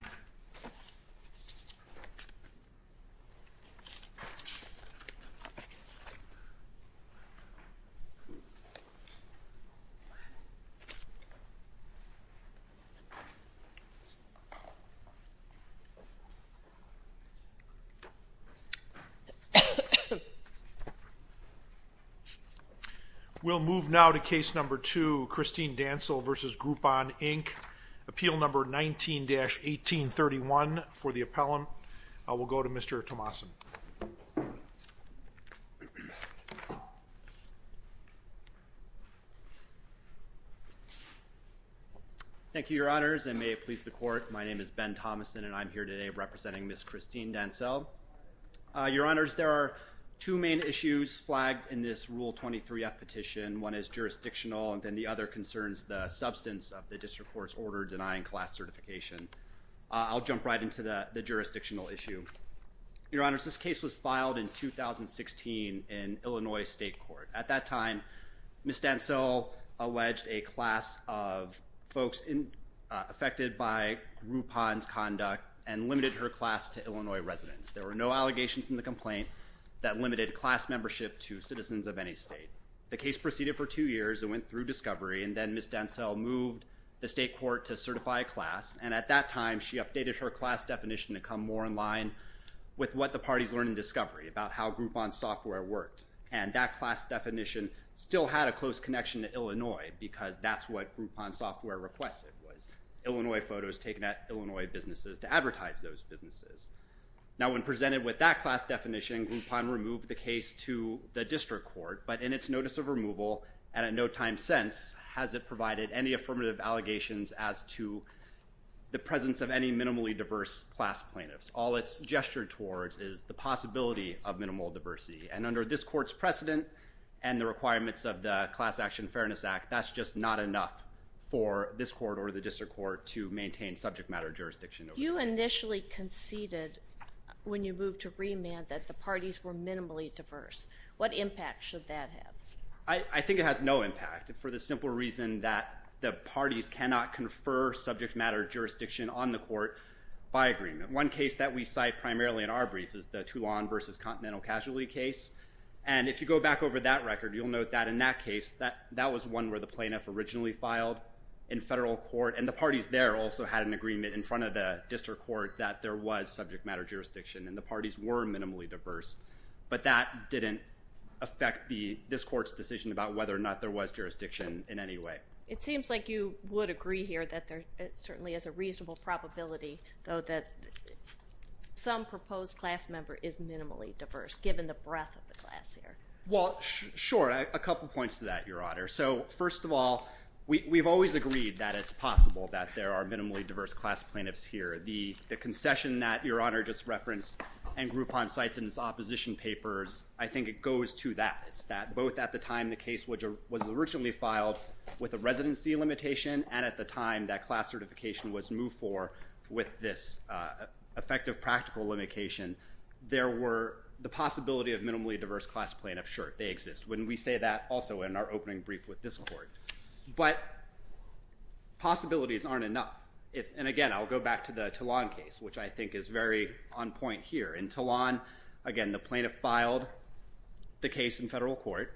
Appeal number 19-18, Dancel v. Groupon, Inc. Appeal number 19-1831 for the appellant. I will go to Mr. Tomasin. Thank you, Your Honors, and may it please the Court, my name is Ben Tomasin and I'm here today representing Ms. Christine Dancel. Your Honors, there are two main issues flagged in this Rule 23F petition. One is jurisdictional and then the other is order denying class certification. I'll jump right into the jurisdictional issue. Your Honors, this case was filed in 2016 in Illinois State Court. At that time, Ms. Dancel alleged a class of folks affected by Groupon's conduct and limited her class to Illinois residents. There were no allegations in the complaint that limited class membership to citizens of any state. The case proceeded for two years and went through discovery and then Ms. Dancel moved the state court to certify a class and at that time she updated her class definition to come more in line with what the parties learned in discovery about how Groupon's software worked and that class definition still had a close connection to Illinois because that's what Groupon's software requested was Illinois photos taken at Illinois businesses to advertise those businesses. Now when presented with that class definition, Groupon removed the case to the district court but in its notice of removal and at no time since has it provided any affirmative allegations as to the presence of any minimally diverse class plaintiffs. All it's gestured towards is the possibility of minimal diversity and under this court's precedent and the requirements of the Class Action Fairness Act, that's just not enough for this court or the district court to maintain subject matter jurisdiction. You initially conceded when you moved to remand that the parties were minimally diverse. What impact should that have? I think it has no impact for the simple reason that the parties cannot confer subject matter jurisdiction on the court by agreement. One case that we cite primarily in our brief is the Toulon versus Continental Casualty case and if you go back over that record you'll note that in that case that that was one where the plaintiff originally filed in federal court and the parties there also had an agreement in front of the district court that there was subject matter jurisdiction and the parties were minimally diverse. So I don't think that's going to affect this court's decision about whether or not there was jurisdiction in any way. It seems like you would agree here that there certainly is a reasonable probability though that some proposed class member is minimally diverse given the breadth of the class here. Well sure, a couple points to that Your Honor. So first of all we've always agreed that it's possible that there are minimally diverse class plaintiffs here. The concession that Your Honor just referenced and Groupon cites in its opposition papers, I think it goes to that. It's that both at the time the case which was originally filed with a residency limitation and at the time that class certification was moved for with this effective practical limitation, there were the possibility of minimally diverse class plaintiff. Sure, they exist. Wouldn't we say that also in our opening brief with this court? But possibilities aren't enough. And again I'll go back to the Toulon case which I the plaintiff filed the case in federal court.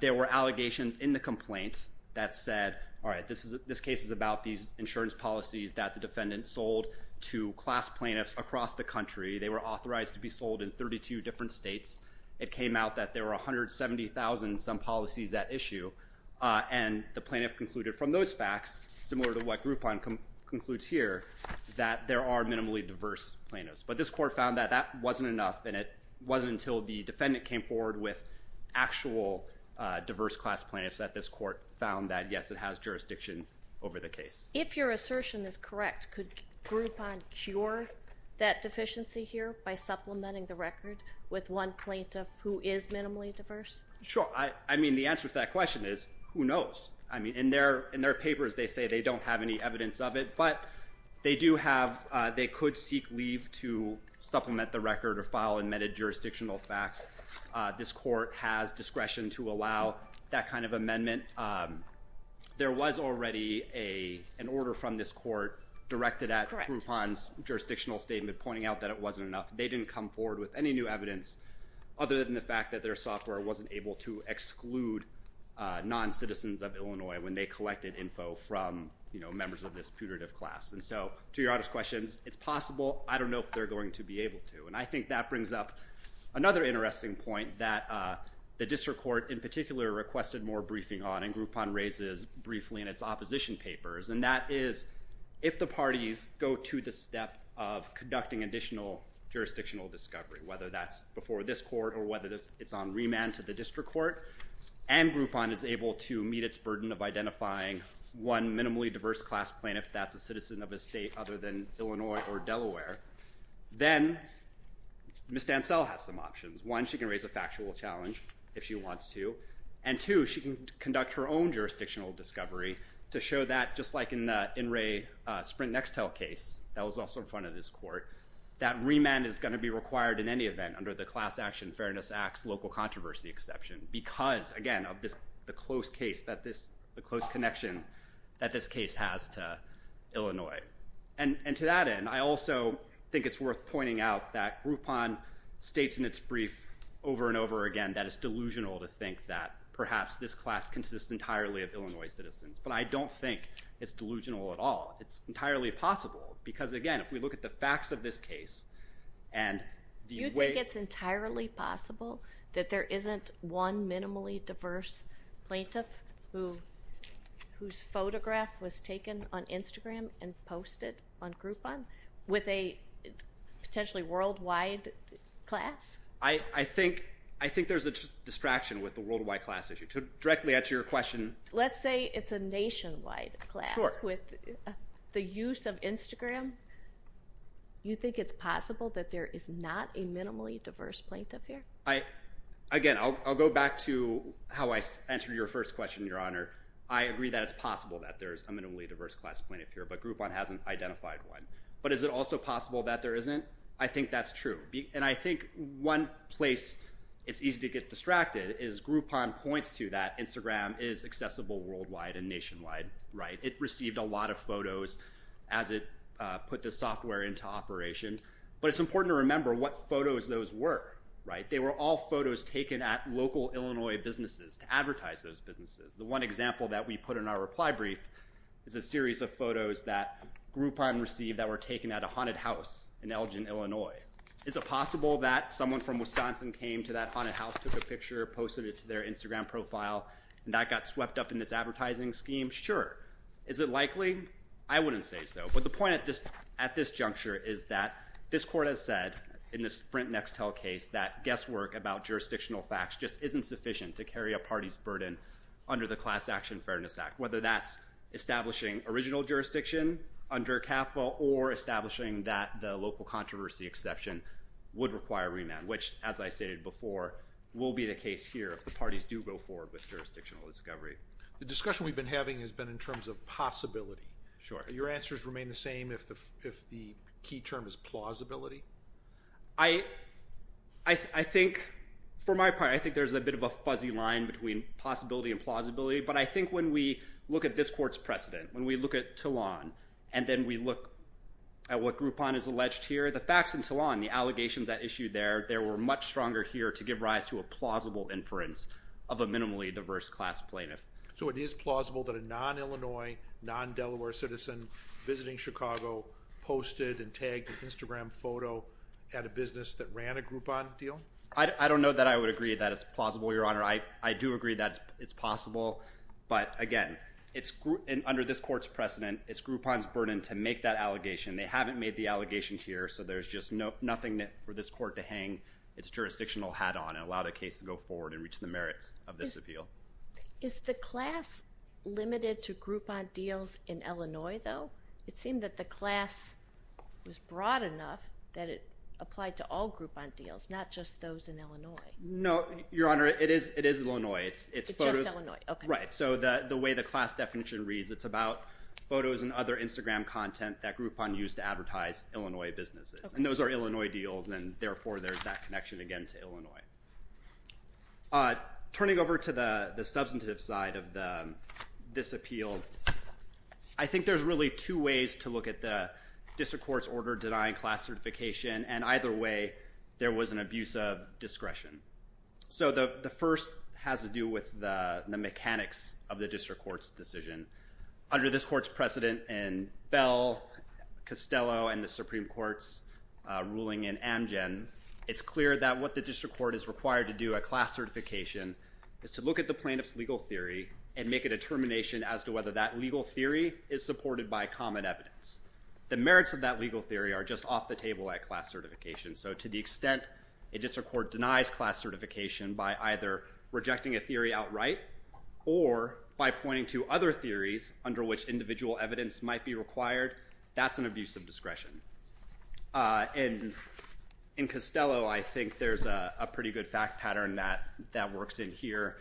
There were allegations in the complaint that said all right this is this case is about these insurance policies that the defendant sold to class plaintiffs across the country. They were authorized to be sold in 32 different states. It came out that there were a hundred seventy thousand some policies that issue and the plaintiff concluded from those facts, similar to what Groupon concludes here, that there are minimally diverse plaintiffs. But this court found that that wasn't enough and it wasn't until the defendant came forward with actual diverse class plaintiffs that this court found that yes it has jurisdiction over the case. If your assertion is correct, could Groupon cure that deficiency here by supplementing the record with one plaintiff who is minimally diverse? Sure. I mean the answer to that question is who knows. I mean in their in their papers they say they don't have any evidence of it but they do have they could seek leave to supplement the record or file and meted jurisdictional facts. This court has discretion to allow that kind of amendment. There was already a an order from this court directed at Groupon's jurisdictional statement pointing out that it wasn't enough. They didn't come forward with any new evidence other than the fact that their software wasn't able to exclude non citizens of Illinois when they collected info from you know members of this class. And so to your other questions it's possible I don't know if they're going to be able to. And I think that brings up another interesting point that the district court in particular requested more briefing on and Groupon raises briefly in its opposition papers and that is if the parties go to the step of conducting additional jurisdictional discovery whether that's before this court or whether this it's on remand to the district court and Groupon is able to meet its burden of identifying one minimally diverse class plaintiff that's a citizen of a state other than Illinois or Delaware then Ms. Dansell has some options. One she can raise a factual challenge if she wants to and two she can conduct her own jurisdictional discovery to show that just like in the In re Sprint Nextel case that was also in front of this court that remand is going to be required in any event under the class action fairness acts local controversy exception because again of this the case that this the close connection that this case has to Illinois. And to that end I also think it's worth pointing out that Groupon states in its brief over and over again that it's delusional to think that perhaps this class consists entirely of Illinois citizens. But I don't think it's delusional at all. It's entirely possible because again if we look at the facts of this case and the way it's entirely possible that there isn't one minimally diverse plaintiff who whose photograph was taken on Instagram and posted on Groupon with a potentially worldwide class. I I think I think there's a distraction with the worldwide class issue. To directly answer your question. Let's say it's a nationwide class with the use of Instagram. You think it's possible that there is not a minimally diverse plaintiff here? I again I'll go back to how I answered your first question your honor. I agree that it's possible that there's a minimally diverse class plaintiff here but Groupon hasn't identified one. But is it also possible that there isn't? I think that's true. And I think one place it's easy to get distracted is Groupon points to that Instagram is accessible worldwide and nationwide right. It received a lot of photos as it put the software into operation. But it's important to remember what photos those were right. They were all photos taken at local Illinois businesses to advertise those businesses. The one example that we put in our reply brief is a series of photos that Groupon received that were taken at a haunted house in Elgin, Illinois. Is it possible that someone from Wisconsin came to that haunted house took a picture posted it to their Instagram profile and that got swept up in this advertising scheme? Sure. Is it likely? I wouldn't say so. But the point at this at this juncture is that this court has said in this Sprint Next Tell case that guesswork about jurisdictional facts just isn't sufficient to carry a party's burden under the Class Action Fairness Act. Whether that's establishing original jurisdiction under CAFA or establishing that the local controversy exception would require remand. Which as I stated before will be the case here if the parties do go forward with jurisdictional discovery. The discussion we've been having has been in terms of possibility. Sure. Your answers remain the if the key term is plausibility? I think for my part I think there's a bit of a fuzzy line between possibility and plausibility. But I think when we look at this court's precedent, when we look at Tillan and then we look at what Groupon has alleged here, the facts in Tillan, the allegations that issue there, there were much stronger here to give rise to a plausible inference of a minimally diverse class plaintiff. So it is plausible that a non-Illinois, non-Delaware citizen visiting Chicago posted and tagged an Instagram photo at a business that ran a Groupon deal? I don't know that I would agree that it's plausible your honor. I do agree that it's possible but again it's under this court's precedent it's Groupon's burden to make that allegation. They haven't made the allegation here so there's just nothing that for this court to hang its jurisdictional hat on and allow the case to go forward and reach the merits of Illinois though? It seemed that the class was broad enough that it applied to all Groupon deals not just those in Illinois. No your honor it is it is Illinois. It's right so the the way the class definition reads it's about photos and other Instagram content that Groupon used to advertise Illinois businesses and those are Illinois deals and therefore there's that connection again to Illinois. Turning over to the the substantive side of this appeal I think there's really two ways to look at the district court's order denying class certification and either way there was an abuse of discretion. So the the first has to do with the mechanics of the district court's decision. Under this court's precedent in Bell, Costello, and the Supreme Court's ruling in Amgen it's clear that what the district court is required to do a class certification is to look at the plaintiff's legal theory and make a determination as to whether that legal theory is supported by common evidence. The merits of that legal theory are just off the table at class certification so to the extent a district court denies class certification by either rejecting a theory outright or by pointing to other theories under which individual evidence might be required that's an abuse of discretion. And in Costello I think there's a pretty good fact pattern that that works in here.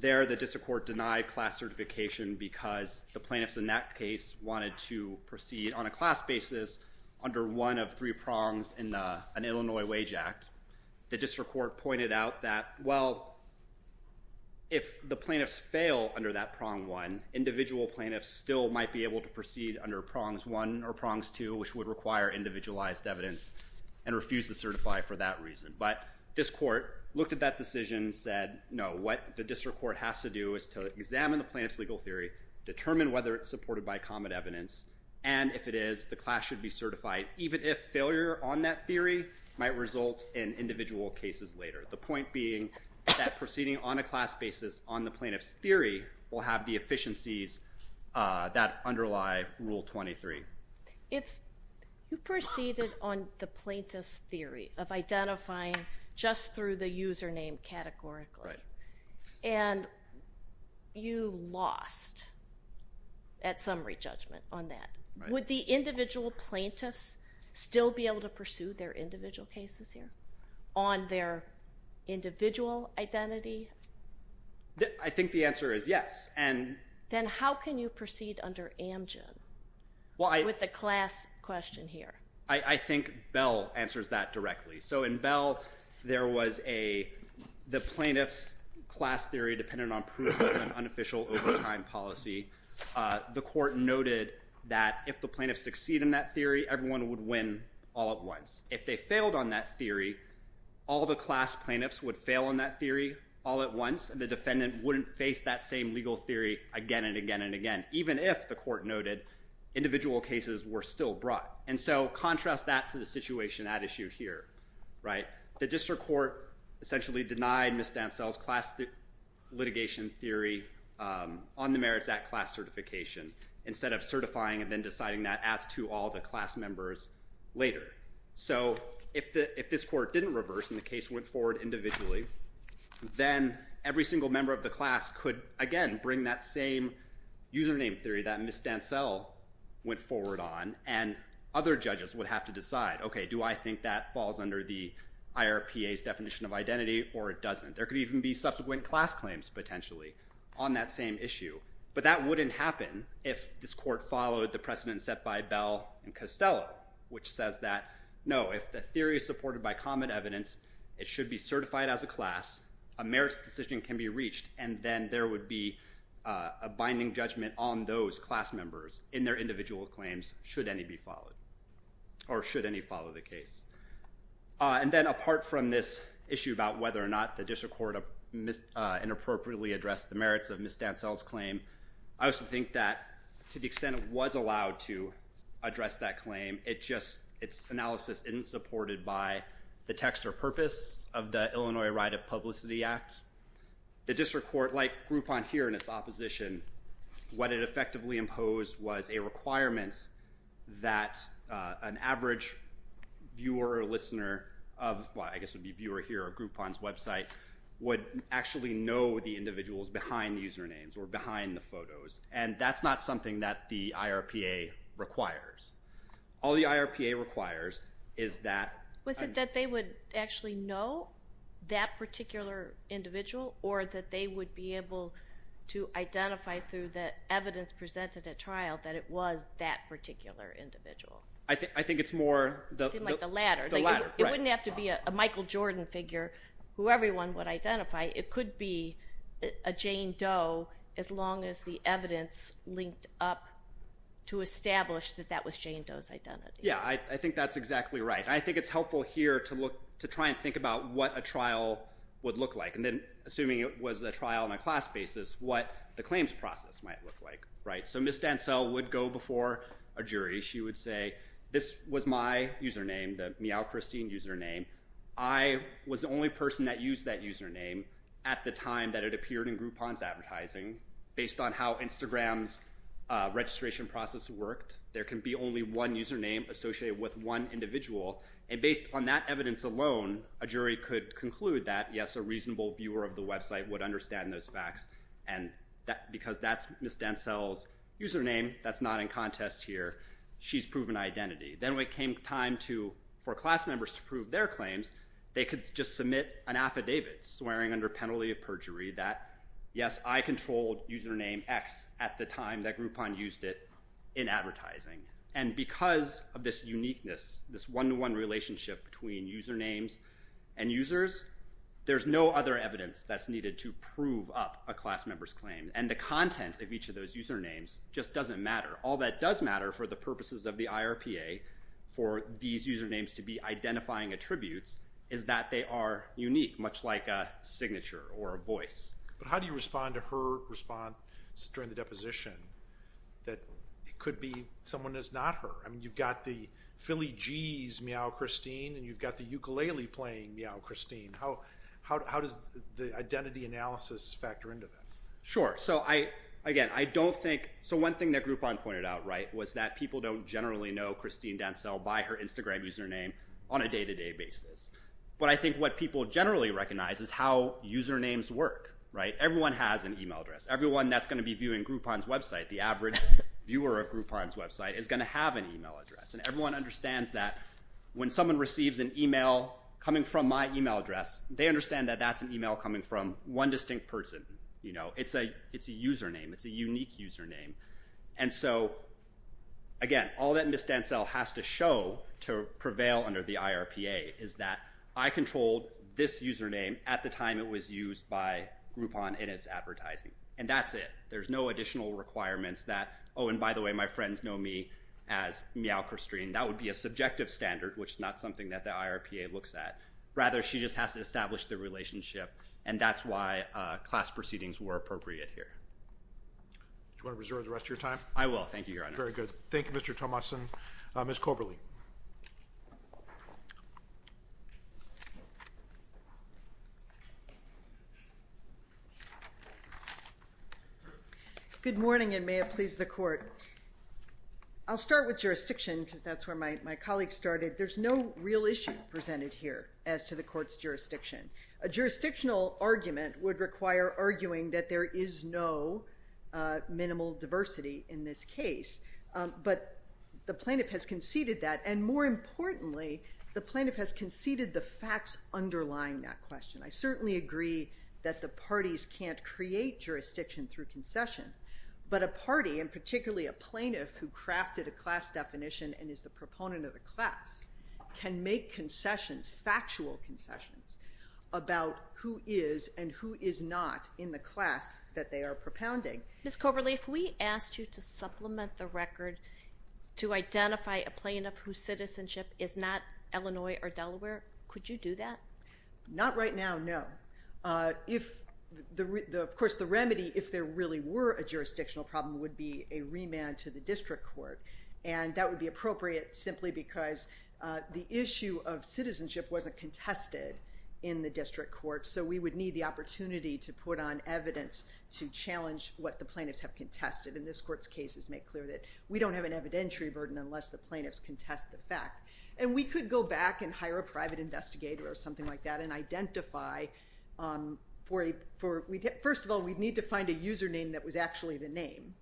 There the district court denied class certification because the plaintiffs in that case wanted to proceed on a class basis under one of three prongs in an Illinois wage act. The district court pointed out that well if the plaintiffs fail under that prong one individual plaintiffs still might be able to proceed under prongs one or prongs two which would require individualized evidence and refuse to certify for that reason. But this court looked at that decision said no what the district court has to do is to examine the plaintiff's legal theory, determine whether it's supported by common evidence, and if it is the class should be certified even if failure on that theory might result in individual cases later. The point being that proceeding on a class basis on the plaintiff's theory will have the efficiencies that underlie rule 23. If you proceeded on the plaintiff's theory of identifying just through the username categorically and you lost at summary judgment on that would the individual plaintiffs still be able to pursue their individual cases here on their individual identity? I think the answer is yes. Then how can you proceed under Amgen with the class question here? I think Bell answers that directly. So in Bell there was a the plaintiff's class theory dependent on proof of an unofficial overtime policy. The court noted that if the plaintiffs succeed in that theory everyone would win all at once. If they failed on that theory all the class plaintiffs would face that same legal theory again and again and again even if the court noted individual cases were still brought. So contrast that to the situation at issue here. The district court essentially denied Ms. Dansell's class litigation theory on the Merits Act class certification instead of certifying and then deciding that as to all the class members later. So if this court didn't reverse and the case went forward individually then every single member of the class could again bring that same username theory that Ms. Dansell went forward on and other judges would have to decide okay do I think that falls under the IRPA's definition of identity or it doesn't. There could even be subsequent class claims potentially on that same issue but that wouldn't happen if this court followed the precedent set by Bell and Costello which says that no if the theory is supported by common evidence it should be certified as a class a merits decision can be reached and then there would be a binding judgment on those class members in their individual claims should any be followed or should any follow the case. And then apart from this issue about whether or not the district court inappropriately addressed the merits of Ms. Dansell's claim I also think that to the extent it was allowed to address that claim it just its analysis isn't supported by the text or purpose of the Illinois Right of Publicity Act. The district court like Groupon here in its opposition what it effectively imposed was a requirement that an average viewer or listener of why I guess would be viewer here or Groupon's website would actually know the individuals behind the usernames or behind the photos and that's not something that the IRPA requires. All the actually know that particular individual or that they would be able to identify through the evidence presented at trial that it was that particular individual. I think I think it's more the latter. It wouldn't have to be a Michael Jordan figure who everyone would identify it could be a Jane Doe as long as the evidence linked up to establish that that was Jane Doe's identity. Yeah I try and think about what a trial would look like and then assuming it was a trial on a class basis what the claims process might look like right so Ms. Dansell would go before a jury she would say this was my username the meow Christine username I was the only person that used that username at the time that it appeared in Groupon's advertising based on how Instagram's registration process worked there can be only one username associated with one individual and based on that evidence alone a jury could conclude that yes a reasonable viewer of the website would understand those facts and that because that's Ms. Dansell's username that's not in contest here she's proven identity then we came time to for class members to prove their claims they could just submit an affidavit swearing under penalty of perjury that yes I controlled username X at the time that Groupon used it in advertising and because of this uniqueness this one-to-one relationship between usernames and users there's no other evidence that's needed to prove up a class member's claim and the content of each of those usernames just doesn't matter all that does matter for the purposes of the IRPA for these usernames to be identifying attributes is that they are unique much like a signature or a voice but how do you respond to her response during the deposition that it could be someone is not her I mean you've got the Philly G's meow Christine and you've got the ukulele playing meow Christine how how does the identity analysis factor into that sure so I again I don't think so one thing that Groupon pointed out right was that people don't generally know Christine Dansell by her Instagram username on a day-to-day basis but I think what people generally recognize is how usernames work right everyone has an email address everyone that's going to be viewing Groupon's website the average viewer of Groupon's website is going to have an address and everyone understands that when someone receives an email coming from my email address they understand that that's an email coming from one distinct person you know it's a it's a username it's a unique username and so again all that Miss Dansell has to show to prevail under the IRPA is that I controlled this username at the time it was used by Groupon in its advertising and that's it there's no additional requirements that oh and by the way my meow Christine that would be a subjective standard which is not something that the IRPA looks at rather she just has to establish the relationship and that's why class proceedings were appropriate here you want to reserve the rest of your time I will thank you very good Thank You mr. Thomas and miss Coberly you good morning and may it please the court I'll start with jurisdiction because that's where my colleagues started there's no real issue presented here as to the court's jurisdiction a jurisdictional argument would require arguing that there is no minimal diversity in this case but the plaintiff has conceded that and more importantly the plaintiff has conceded the facts underlying that question I certainly agree that the parties can't create jurisdiction through concession but a party and particularly a plaintiff who crafted a class definition and is the proponent of the class can make concessions factual concessions about who is and who is not in the class that they are propounding miss Coberly if we asked you to supplement the record to identify a plaintiff whose citizenship is not Illinois or Delaware could you do that not right now no if the of course the remedy if there really were a jurisdictional problem would be a remand to the district court and that would be appropriate simply because the issue of citizenship wasn't contested in the district court so we would need the opportunity to put on evidence to challenge what the plaintiffs have contested in this court's cases make clear that we don't have an evidentiary burden unless the plaintiffs contest the fact and we could go back and hire a private investigator or something like that and identify for a for we first of all we need to find a username that was actually the name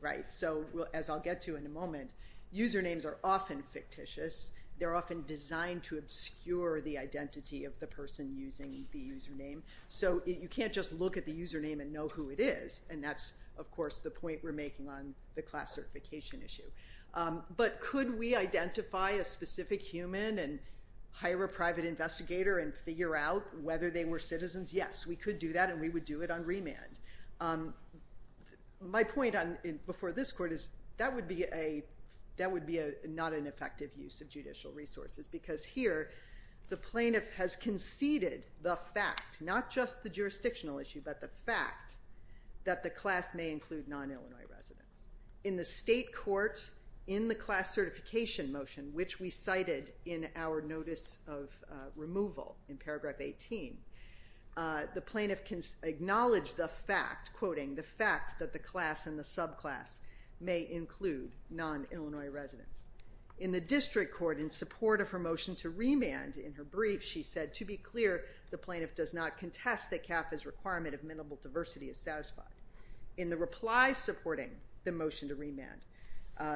right so well as I'll get to in a moment usernames are often fictitious they're often designed to obscure the identity of the person using the username so you can't just look at the username and know who it is and that's of course the point we're making on the class certification issue but could we identify a specific human and hire a private investigator and figure out whether they were citizens yes we could do that and we would do it on remand my point on before this court is that would be a that would be a not an effective use of judicial resources because here the plaintiff has conceded the fact not just the jurisdictional issue but the fact that the class may include non-illinois residents in the state courts in the class certification motion which we cited in our notice of removal in paragraph 18 the plaintiff can acknowledge the fact quoting the fact that the class and the subclass may include non-illinois residents in the district court in support of her motion to remand in her brief she said to be clear the plaintiff does not contest that cap is requirement of minimal diversity is satisfied in the replies supporting the motion to remand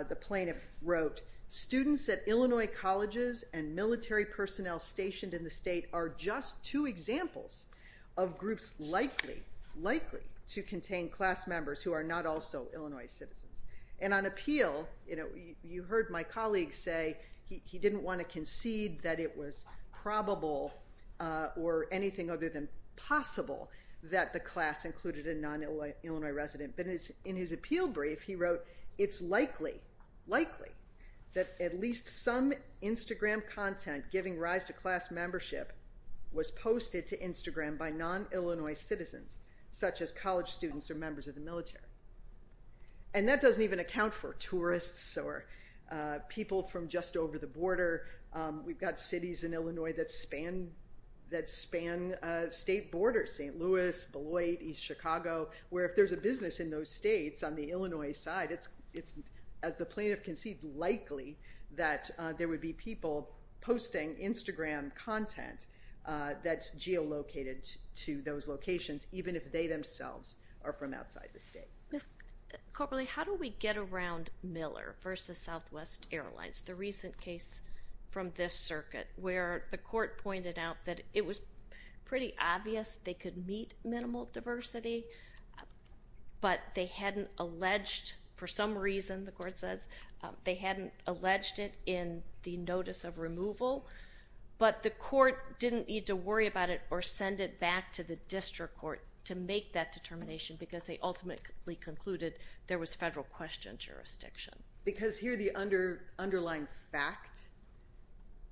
the plaintiff wrote students at Illinois colleges and military personnel stationed in the state are just two examples of groups likely likely to contain class members who are not also Illinois citizens and on appeal you know you heard my colleagues say he didn't want to concede that it was probable or anything other than possible that the class included a non-illinois resident but it's in his appeal brief he wrote it's likely likely that at least some Instagram content giving rise to class membership was posted to Instagram by non-illinois citizens such as college students or members of the military and that doesn't even account for tourists or people from just over the border we've got cities in Illinois that span that span state borders st. Louis Beloit East Chicago where if there's a business in those states on the Illinois side it's it's as the plaintiff conceived likely that there would be people posting Instagram content that's geolocated to those locations even if they themselves are from outside the versus Southwest Airlines the recent case from this circuit where the court pointed out that it was pretty obvious they could meet minimal diversity but they hadn't alleged for some reason the court says they hadn't alleged it in the notice of removal but the court didn't need to worry about it or send it back to the district court to make that determination because they ultimately concluded there was federal question jurisdiction because here the under underlying fact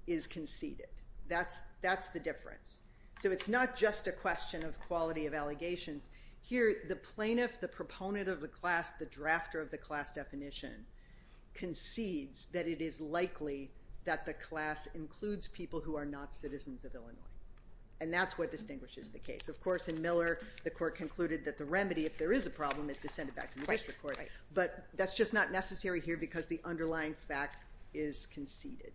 is conceded that's that's the difference so it's not just a question of quality of allegations here the plaintiff the proponent of the class the drafter of the class definition concedes that it is likely that the class includes people who are not citizens of Illinois and that's what distinguishes the case of course in Miller the court concluded that the but that's just not necessary here because the underlying fact is conceded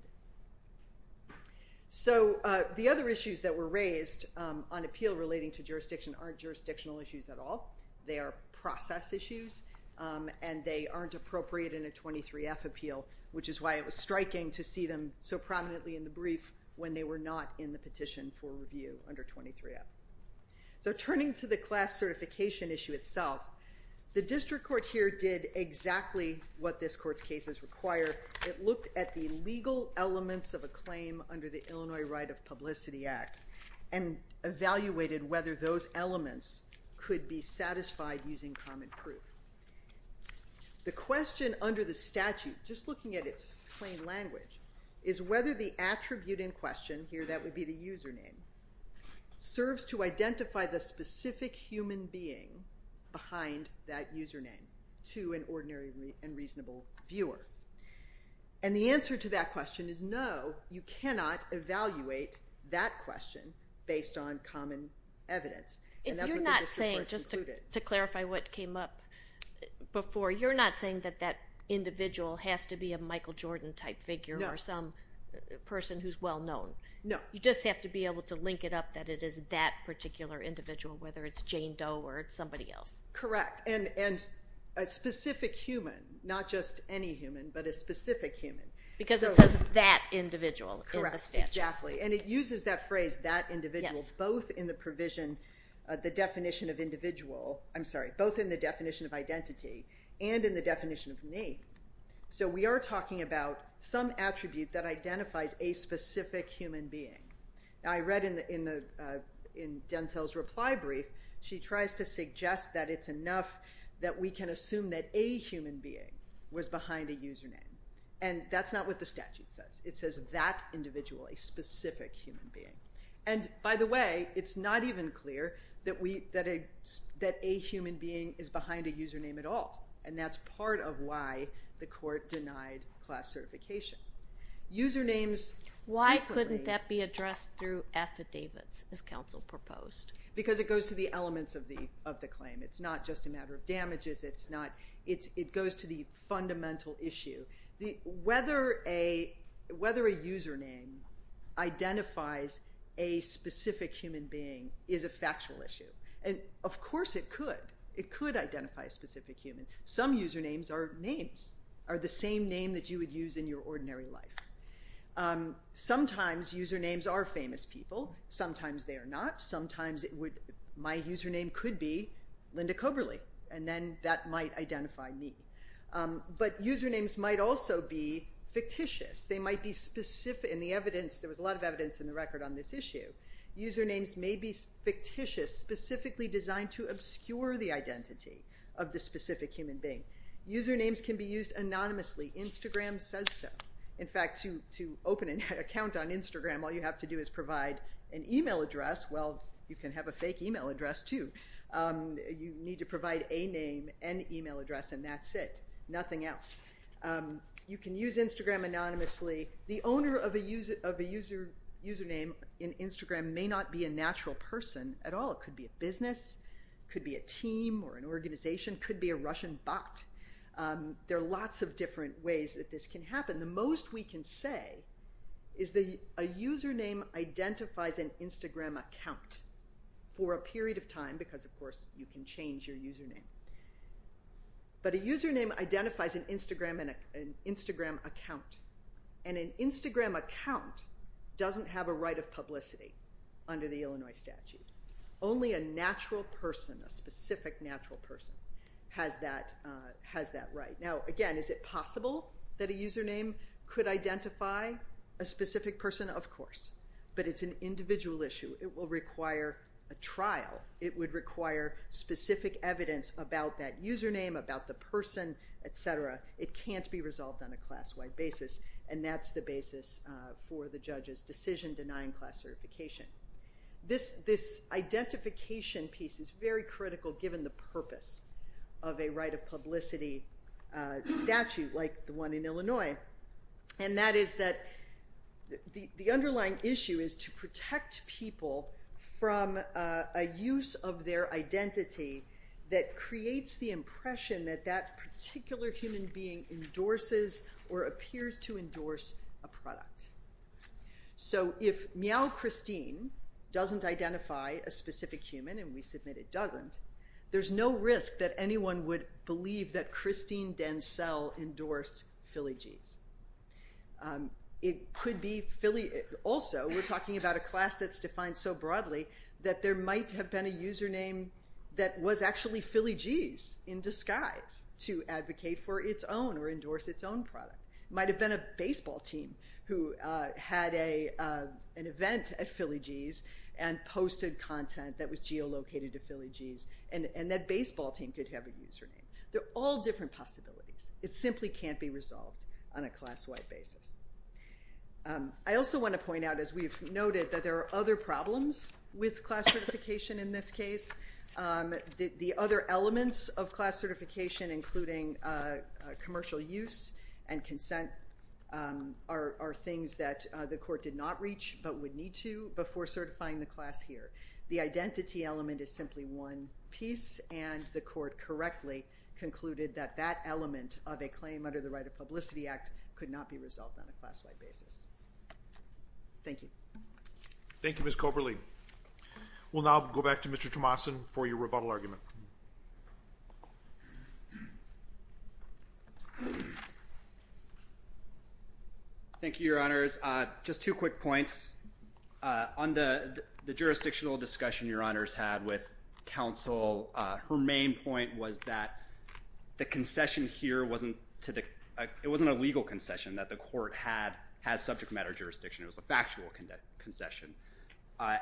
so the other issues that were raised on appeal relating to jurisdiction aren't jurisdictional issues at all they are process issues and they aren't appropriate in a 23 F appeal which is why it was striking to see them so prominently in the brief when they were not in the petition for review under 23 F so turning to the class certification issue itself the district court here did exactly what this court's cases require it looked at the legal elements of a claim under the Illinois right of publicity act and evaluated whether those elements could be satisfied using common proof the question under the statute just looking at its plain language is whether the attribute in here that would be the username serves to identify the specific human being behind that username to an ordinary and reasonable viewer and the answer to that question is no you cannot evaluate that question based on common evidence you're not saying just to clarify what came up before you're not saying that that individual has to be a Michael Jordan type figure or some person who's well known no you just have to be able to link it up that it is that particular individual whether it's Jane Doe or somebody else correct and and a specific human not just any human but a specific human because it's that individual correct exactly and it uses that phrase that individual both in the provision the definition of individual I'm sorry both in the definition of identity and in the definition of me so we are talking about some attribute that human being I read in the in the in Denzel's reply brief she tries to suggest that it's enough that we can assume that a human being was behind a username and that's not what the statute says it says that individual a specific human being and by the way it's not even clear that we that a that a human being is behind a username at all and that's part of why the court denied class certification usernames why couldn't that be addressed through affidavits as counsel proposed because it goes to the elements of the of the claim it's not just a matter of damages it's not it's it goes to the fundamental issue the whether a whether a username identifies a specific human being is a factual issue and of course it could it could identify a specific human some usernames are names are the same name that you would use in your ordinary life sometimes usernames are famous people sometimes they are not sometimes it would my username could be Linda Coberly and then that might identify me but usernames might also be fictitious they might be specific in the evidence there was a lot of evidence in the record on this issue usernames may be fictitious specifically designed to obscure the identity of the specific human being usernames can be used anonymously Instagram says so in fact you to open an account on Instagram all you have to do is provide an email address well you can have a fake email address to you need to provide a name and email address and that's it nothing else you can use Instagram anonymously the owner of a user of a user username in Instagram may not be a natural person at all it could be a business could be a team or an organization could be a Russian bot there are lots of different ways that this can happen the most we can say is the a username identifies an Instagram account for a period of time because of course you can change your username but a username identifies an Instagram and an Instagram account and an Instagram account doesn't have a right of publicity under the Illinois statute only a natural person a specific natural person has that has that right now again is it possible that a username could identify a specific person of course but it's an individual issue it will require a trial it would require specific evidence about that username about the person etc it can't be resolved on a class-wide basis and that's the basis for the judge's decision denying class certification this this identification piece is very critical given the purpose of a right of publicity statute like the one in Illinois and that is that the underlying issue is to protect people from a use of their identity that creates the impression that that particular human being endorses or appears to endorse a product so if meow Christine doesn't identify a specific human and we submit it doesn't there's no risk that anyone would believe that Christine Denzel endorsed Philly G's it could be Philly also we're talking about a class that's defined so broadly that there might have been a username that was actually Philly G's in disguise to advocate for its own or endorse its own product might have been a baseball team who had a an event at Philly G's and posted content that was geolocated to Philly G's and and that baseball team could have a username they're all different possibilities it simply can't be resolved on a class-wide basis I also want to point out as we've noted that there are other problems with class certification in this case the other elements of class certification including commercial use and consent are things that the court did not reach but would need to before certifying the class here the identity element is simply one piece and the court correctly concluded that that element of a claim under the right of publicity act could not be resolved on a classified basis thank you thank you miss Coberly we'll now go back to mr. Tomasin for your rebuttal argument thank you your honors just two quick points on the the jurisdictional discussion your honors had with counsel her main point was that the concession here wasn't to the it wasn't a legal concession that the court had has subject matter jurisdiction it was a factual concession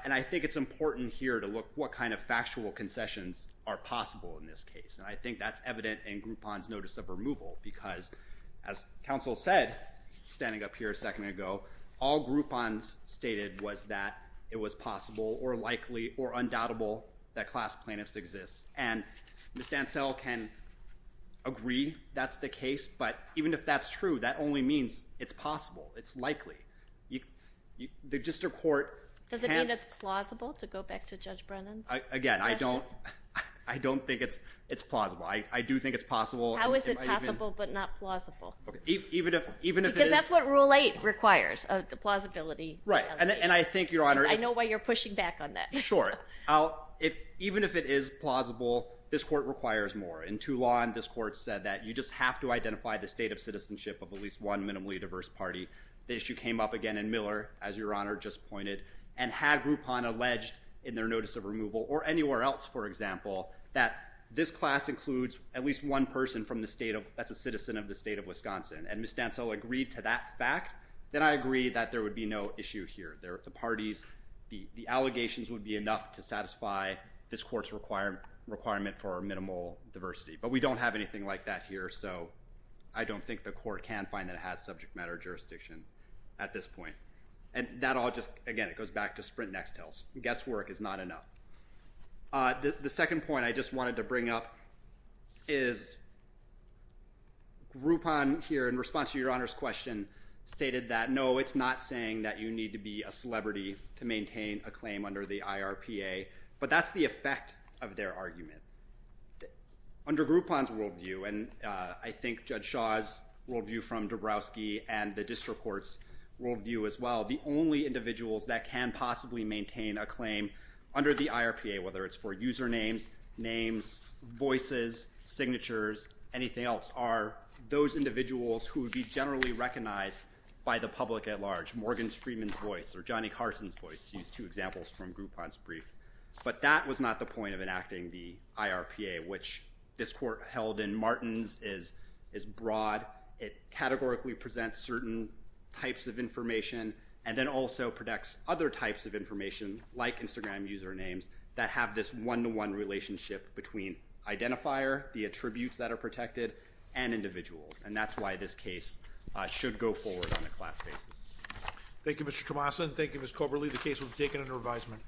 and I think it's important here to look what kind of factual concessions are possible in this case and I think that's evident in Groupon's notice of removal because as counsel said standing up here a second ago all Groupon's stated was that it was possible or likely or undoubtable that class plaintiffs exist and miss Dansell can agree that's the case but even if that's true that only means it's likely you the district court does it mean it's plausible to go back to judge Brennan's again I don't I don't think it's it's plausible I do think it's possible how is it possible but not plausible even if even if that's what rule eight requires the plausibility right and I think your honor I know why you're pushing back on that sure oh if even if it is plausible this court requires more in Toulon this court said that you just have to identify the state of citizenship of at least one minimally diverse party the issue came up again in Miller as your honor just pointed and had Groupon alleged in their notice of removal or anywhere else for example that this class includes at least one person from the state of that's a citizen of the state of Wisconsin and miss Dansell agreed to that fact then I agree that there would be no issue here there are two parties the the allegations would be enough to satisfy this courts requirement requirement for minimal diversity but we think the court can find that has subject matter jurisdiction at this point and that all just again it goes back to sprint next Hills guesswork is not enough the second point I just wanted to bring up is Groupon here in response to your honors question stated that no it's not saying that you need to be a celebrity to maintain a claim under the IRPA but that's the effect of their view and I think judge Shaw's worldview from Dabrowski and the district courts worldview as well the only individuals that can possibly maintain a claim under the IRPA whether it's for usernames names voices signatures anything else are those individuals who would be generally recognized by the public at large Morgan's Freeman's voice or Johnny Carson's voice to use two examples from Groupon's brief but that was not the point of enacting the IRPA which this held in Martins is is broad it categorically presents certain types of information and then also protects other types of information like Instagram usernames that have this one-to-one relationship between identifier the attributes that are protected and individuals and that's why this case should go forward on the class basis Thank You mr. Tomas and Thank You miss Cobra leave the case will be taken under advisement